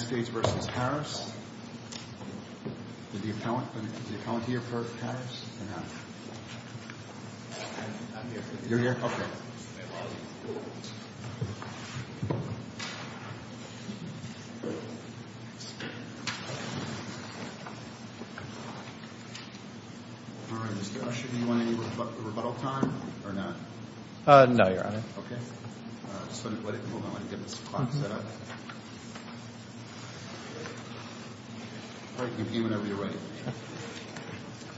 Did the accountant, did the accountant here work for Harris or not? I'm here. You're here? All right, Mr. Usher, do you want any rebuttal time or not? No, Your Honor. Okay. I just want to let it move. I want to get this clock set up. All right, you can be whenever you're ready.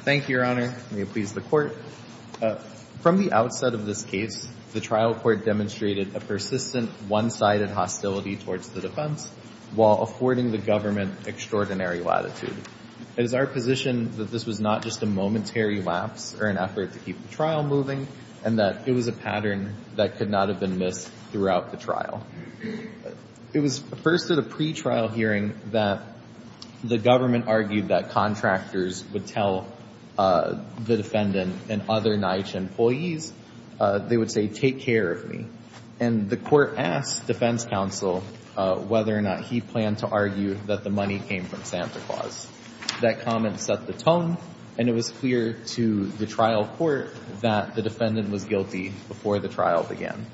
Thank you, Your Honor. May it please the Court. From the outset of this case, the trial court demonstrated a persistent one-sided hostility towards the defense while affording the government extraordinary latitude. It is our position that this was not just a momentary lapse or an effort to keep the trial moving and that it was a pattern that could not have been missed throughout the trial. It was first at a pretrial hearing that the government argued that contractors would tell the defendant and other NYCHA employees, they would say, take care of me. And the court asked defense counsel whether or not he planned to argue that the money came from Santa Claus. That comment set the tone, and it was clear to the trial court that the defendant was guilty before the trial began.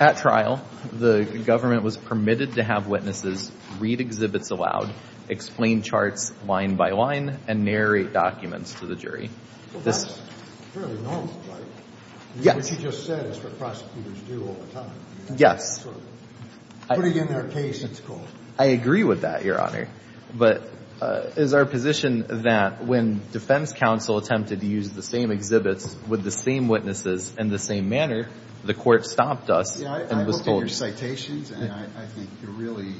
At trial, the government was permitted to have witnesses read exhibits aloud, explain charts line by line, and narrate documents to the jury. Well, that's fairly normal, right? Yes. What you just said is what prosecutors do all the time. Yes. Sort of putting in their case, it's called. I agree with that, Your Honor. But it is our position that when defense counsel attempted to use the same exhibits with the same witnesses in the same manner, the court stopped us and was told— I looked at your citations, and I think you're really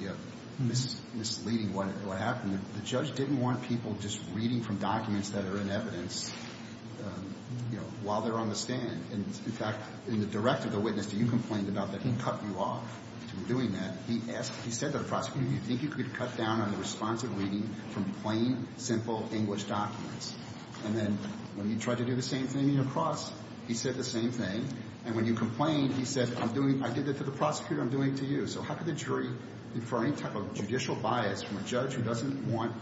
misleading what happened. The judge didn't want people just reading from documents that are in evidence while they're on the stand. In fact, in the direct of the witness that you complained about, that he cut you off from doing that, he said to the prosecutor, do you think you could cut down on the responsive reading from plain, simple English documents? And then when he tried to do the same thing across, he said the same thing. And when you complained, he said, I'm doing—I did that to the prosecutor. I'm doing it to you. So how could the jury defer any type of judicial bias from a judge who doesn't want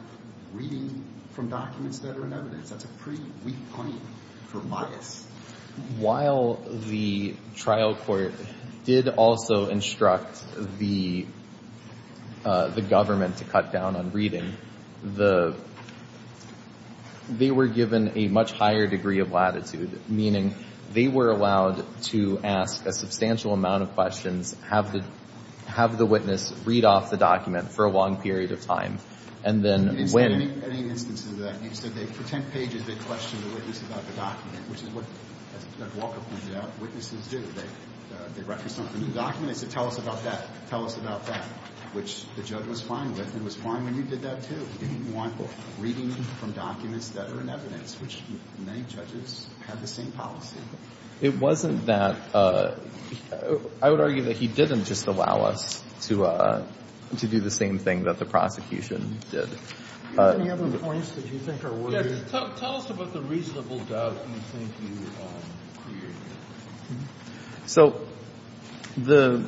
reading from documents that are in evidence? That's a pretty weak claim for bias. While the trial court did also instruct the government to cut down on reading, the—they were given a much higher degree of latitude, meaning they were allowed to ask a substantial amount of questions, have the witness read off the document for a long period of time, and then when— You didn't say any instances of that. You said they—for 10 pages, they questioned the witness about the document, which is what, as Judge Walker pointed out, witnesses do. They reference something in the document. They said, tell us about that. Tell us about that, which the judge was fine with, and was fine when you did that, too. He didn't want reading from documents that are in evidence, which many judges have the same policy. It wasn't that—I would argue that he didn't just allow us to do the same thing that the prosecution did. Any other points that you think are worth— Yes, tell us about the reasonable doubt you think you created. So the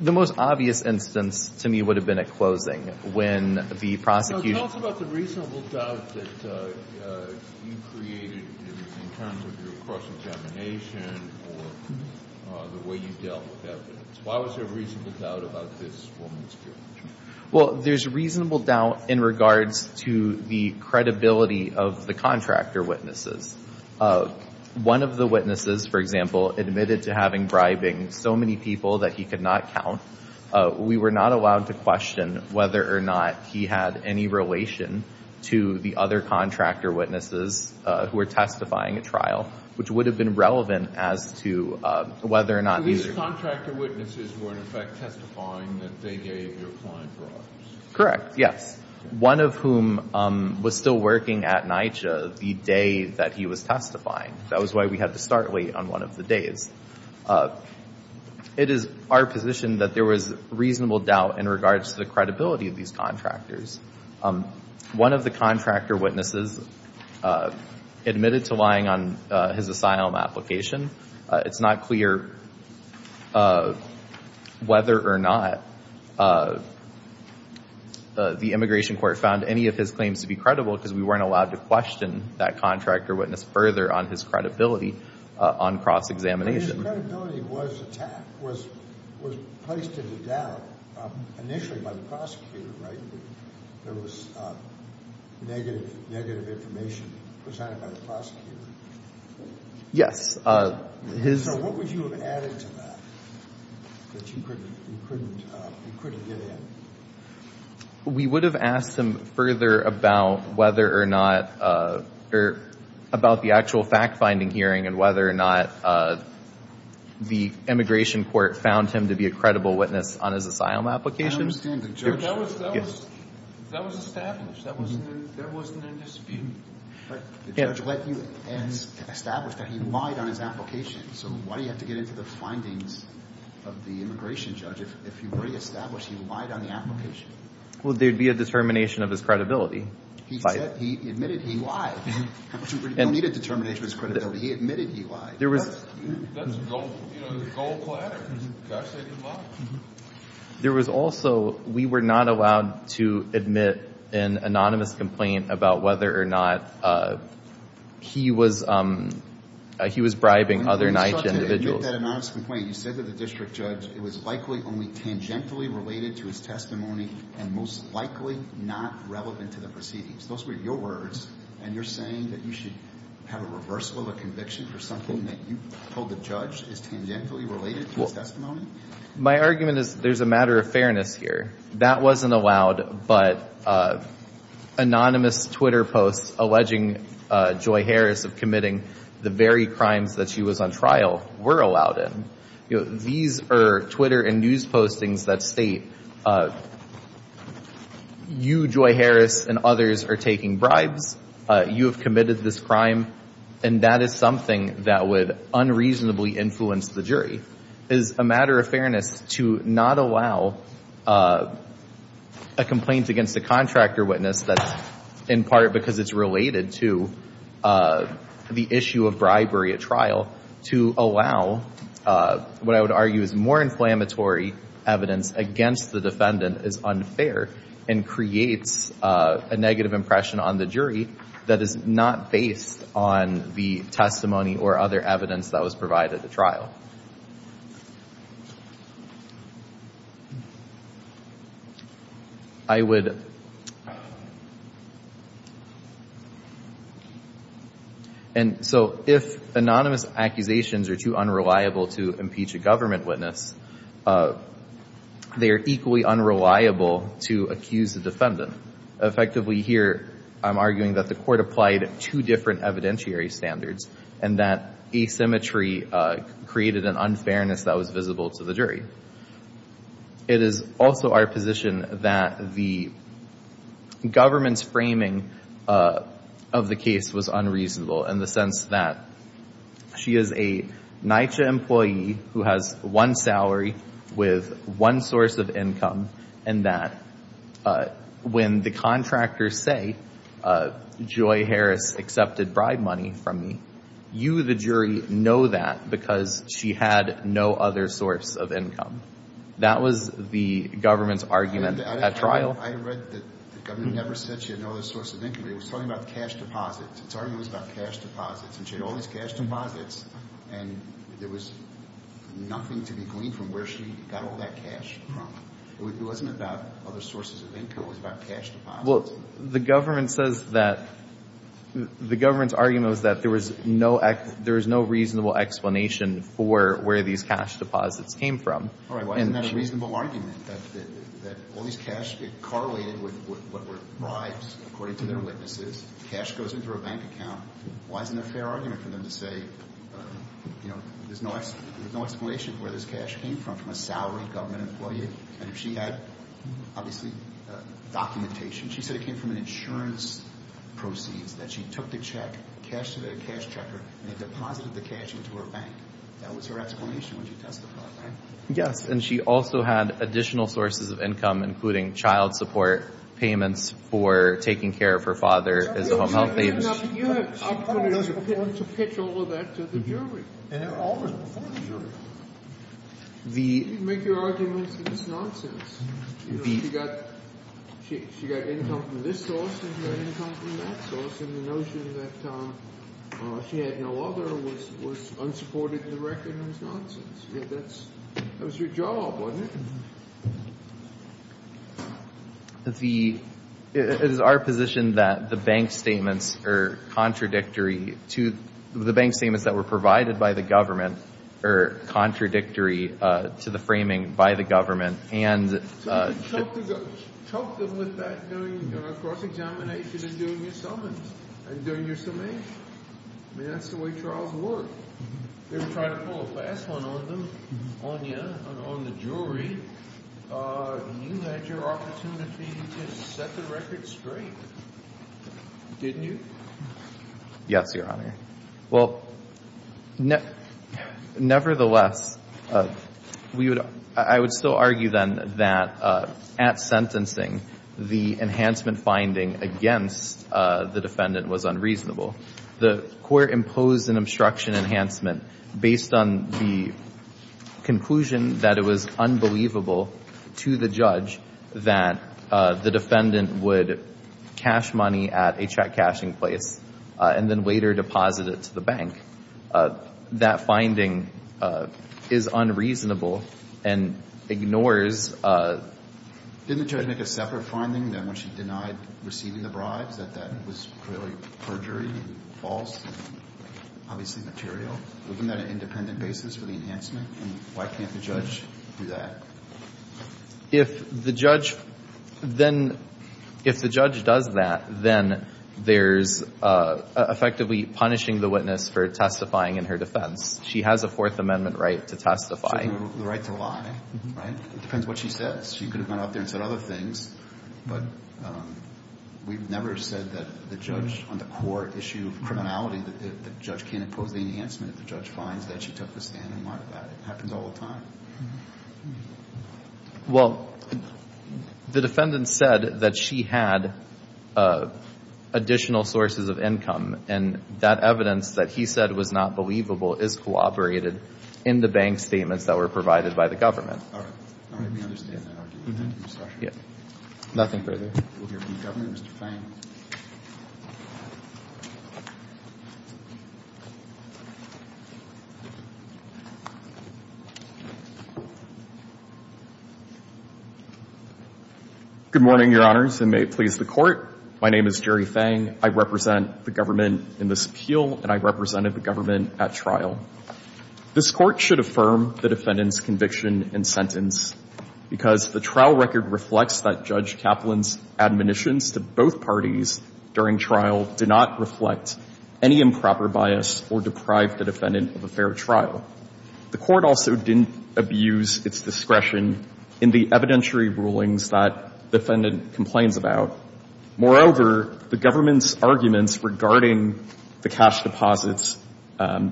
most obvious instance to me would have been at closing, when the prosecution— Tell us about the reasonable doubt that you created in terms of your cross-examination or the way you dealt with evidence. Why was there a reasonable doubt about this woman's judgment? Well, there's reasonable doubt in regards to the credibility of the contractor witnesses. One of the witnesses, for example, admitted to having bribing so many people that he could not count. We were not allowed to question whether or not he had any relation to the other contractor witnesses who were testifying at trial, which would have been relevant as to whether or not these— So the contractor witnesses were, in effect, testifying that they gave your client bribes. Correct, yes. One of whom was still working at NYCHA the day that he was testifying. That was why we had to start late on one of the days. It is our position that there was reasonable doubt in regards to the credibility of these contractors. One of the contractor witnesses admitted to lying on his asylum application. It's not clear whether or not the immigration court found any of his claims to be credible, because we weren't allowed to question that contractor witness further on his credibility on cross-examination. His credibility was placed into doubt initially by the prosecutor, right? There was negative information presented by the prosecutor. Yes. So what would you have added to that that you couldn't get in? We would have asked him further about whether or not—about the actual fact-finding hearing and whether or not the immigration court found him to be a credible witness on his asylum application. I understand. The judge— That was established. There wasn't a dispute. But the judge let you establish that he lied on his application, so why do you have to get into the findings of the immigration judge? If you re-establish he lied on the application— Well, there'd be a determination of his credibility. He admitted he lied. You don't need a determination of his credibility. He admitted he lied. That's a gold platter. The judge said he lied. There was also—we were not allowed to admit an anonymous complaint about whether or not he was bribing other NYCHA individuals. You admitted that anonymous complaint. You said to the district judge it was likely only tangentially related to his testimony and most likely not relevant to the proceedings. Those were your words, and you're saying that you should have a reversal of a conviction for something that you told the judge is tangentially related to his testimony? My argument is there's a matter of fairness here. That wasn't allowed, but anonymous Twitter posts alleging Joy Harris of committing the very crimes that she was on trial were allowed in. These are Twitter and news postings that state you, Joy Harris, and others are taking bribes. You have committed this crime, and that is something that would unreasonably influence the jury. It is a matter of fairness to not allow a complaint against a contractor witness that's in part because it's related to the issue of bribery at trial to allow what I would argue is more inflammatory evidence against the defendant is unfair and creates a negative impression on the jury that is not based on the testimony or other evidence that was provided at trial. I would, and so if anonymous accusations are too unreliable to impeach a government witness, they are equally unreliable to accuse the defendant. Effectively here, I'm arguing that the court applied two different evidentiary standards and that asymmetry created an unfairness that was visible to the jury. It is also our position that the government's framing of the case was unreasonable in the sense that she is a NYCHA employee who has one salary with one source of income and that when the contractors say, Joy Harris accepted bribe money from me, you, the jury, know that because she had no other source of income. That was the government's argument at trial. I read that the government never said she had no other source of income. It was talking about cash deposits. Its argument was about cash deposits, and she had all these cash deposits, and there was nothing to be gleaned from where she got all that cash from. It wasn't about other sources of income. It was about cash deposits. Well, the government says that the government's argument was that there was no reasonable explanation for where these cash deposits came from. All right. Why isn't that a reasonable argument that all these cash, it correlated with what were bribes according to their witnesses? Cash goes into a bank account. Why isn't there a fair argument for them to say, you know, there's no explanation for where this cash came from, from a salaried government employee? And if she had, obviously, documentation, she said it came from an insurance proceeds, that she took the check, cashed it at a cash checker, and they deposited the cash into her bank. That was her explanation when she testified, right? Yes, and she also had additional sources of income, including child support payments for taking care of her father as a home health aide. You had opportunities to pitch all of that to the jury. And all this before the jury. You can make your arguments, but it's nonsense. She got income from this source and her income from that source, and the notion that she had no other was unsupported in the record. It was nonsense. That was your job, wasn't it? It is our position that the bank statements that were provided by the government are contradictory to the framing by the government. Talk to them with that during a cross-examination and during your summons, and during your summation. I mean, that's the way trials work. They're trying to pull a fast one on you, on the jury. You had your opportunity to set the record straight, didn't you? Yes, Your Honor. Well, nevertheless, I would still argue then that at sentencing, the enhancement finding against the defendant was unreasonable. The court imposed an obstruction enhancement based on the conclusion that it was unbelievable to the judge that the defendant would cash money at a check-cashing place and then later deposit it to the bank. That finding is unreasonable and ignores. Didn't the judge make a separate finding when she denied receiving the bribes, that that was clearly perjury and false and obviously material? Wasn't that an independent basis for the enhancement? Why can't the judge do that? If the judge does that, then there's effectively punishing the witness for testifying in her defense. She has a Fourth Amendment right to testify. She has the right to lie, right? It depends what she says. She could have gone out there and said other things, but we've never said that the judge on the court issue of criminality, the judge can't impose the enhancement if the judge finds that she took the stand and lied about it. It happens all the time. Well, the defendant said that she had additional sources of income, and that evidence that he said was not believable is corroborated in the bank statements that were provided by the government. All right. Let me understand that argument. Nothing further. We'll hear from the government. Mr. Fang. Good morning, Your Honors, and may it please the Court. My name is Jerry Fang. I represent the government in this appeal, and I represented the government at trial. This Court should affirm the defendant's conviction and sentence because the trial record reflects that Judge Kaplan's admonitions to both parties during trial did not reflect any improper bias or deprive the defendant of a fair trial. The Court also didn't abuse its discretion in the evidentiary rulings that the defendant complains about. Moreover, the government's arguments regarding the cash deposits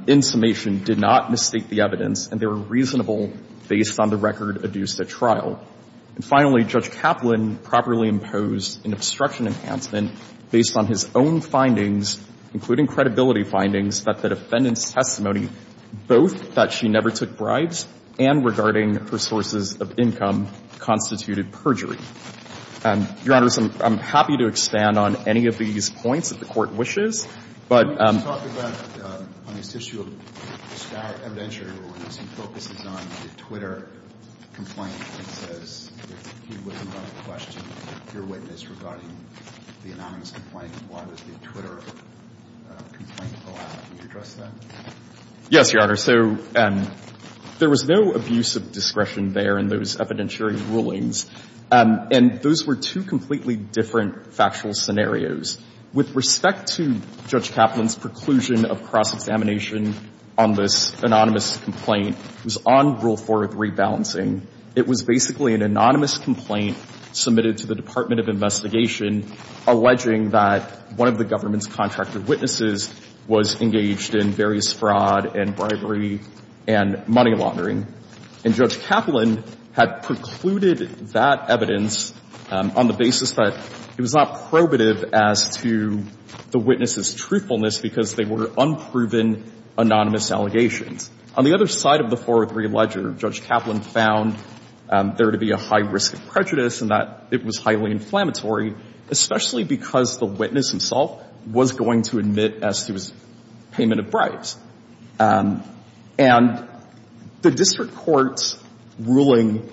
in summation did not mistake the evidence, and they were reasonable based on the record adduced at trial. And finally, Judge Kaplan properly imposed an obstruction enhancement based on his own findings, including credibility findings, that the defendant's testimony, both that she never took bribes and regarding her sources of income, constituted perjury. Your Honors, I'm happy to expand on any of these points that the Court wishes, but When you talk about, on this issue of evidentiary rulings, he focuses on the Twitter complaint and says that he wasn't going to question your witness regarding the anonymous complaint, and why was the Twitter complaint allowed? Can you address that? Yes, Your Honor. So there was no abuse of discretion there in those evidentiary rulings, and those were two completely different factual scenarios. With respect to Judge Kaplan's preclusion of cross-examination on this anonymous complaint, it was on Rule 403 balancing. It was basically an anonymous complaint submitted to the Department of Investigation alleging that one of the government's contracted witnesses was engaged in various fraud and bribery and money laundering, and Judge Kaplan had precluded that evidence on the basis that it was not probative as to the witness's truthfulness because they were unproven anonymous allegations. On the other side of the 403 ledger, Judge Kaplan found there to be a high risk of prejudice and that it was highly inflammatory, especially because the witness himself was going to admit as to his payment of bribes. And the district court's ruling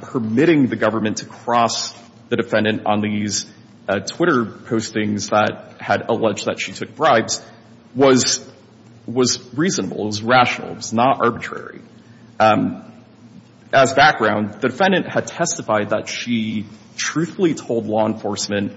permitting the government to cross the defendant on these Twitter postings that had alleged that she took bribes was reasonable. It was rational. It was not arbitrary. As background, the defendant had testified that she truthfully told law enforcement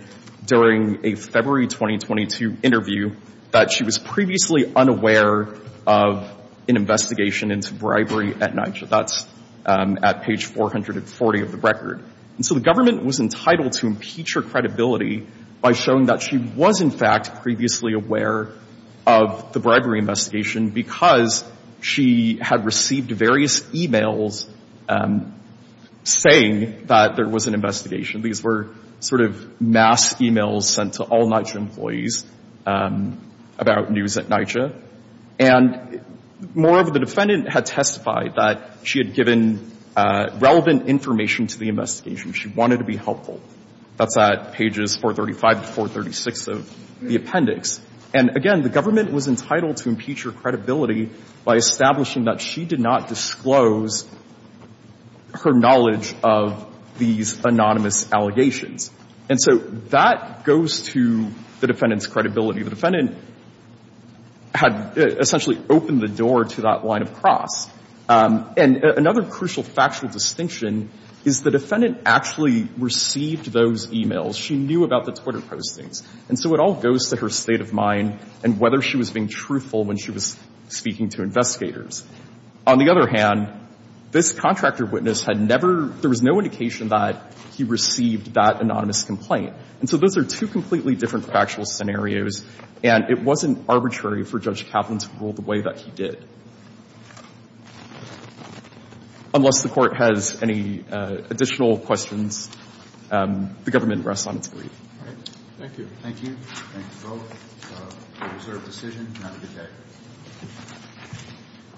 during a February 2022 interview that she was previously unaware of an investigation into bribery at NYCHA. That's at page 440 of the record. And so the government was entitled to impeach her credibility by showing that she was, in fact, previously aware of the bribery investigation because she had received various e-mails saying that there was an investigation. These were sort of mass e-mails sent to all NYCHA employees about news at NYCHA. And moreover, the defendant had testified that she had given relevant information to the investigation. She wanted to be helpful. That's at pages 435 to 436 of the appendix. And again, the government was entitled to impeach her credibility by establishing that she did not disclose her knowledge of these anonymous allegations. And so that goes to the defendant's credibility. The defendant had essentially opened the door to that line of cross. And another crucial factual distinction is the defendant actually received those e-mails. She knew about the Twitter postings. And so it all goes to her state of mind and whether she was being truthful when she was speaking to investigators. On the other hand, this contractor witness had never – there was no indication that he received that anonymous complaint. And so those are two completely different factual scenarios, and it wasn't arbitrary for Judge Kaplan to rule the way that he did. Unless the Court has any additional questions, the government rests on its leave. All right. Thank you. Thank you. Thank you both. It was a reserved decision. Have a good day.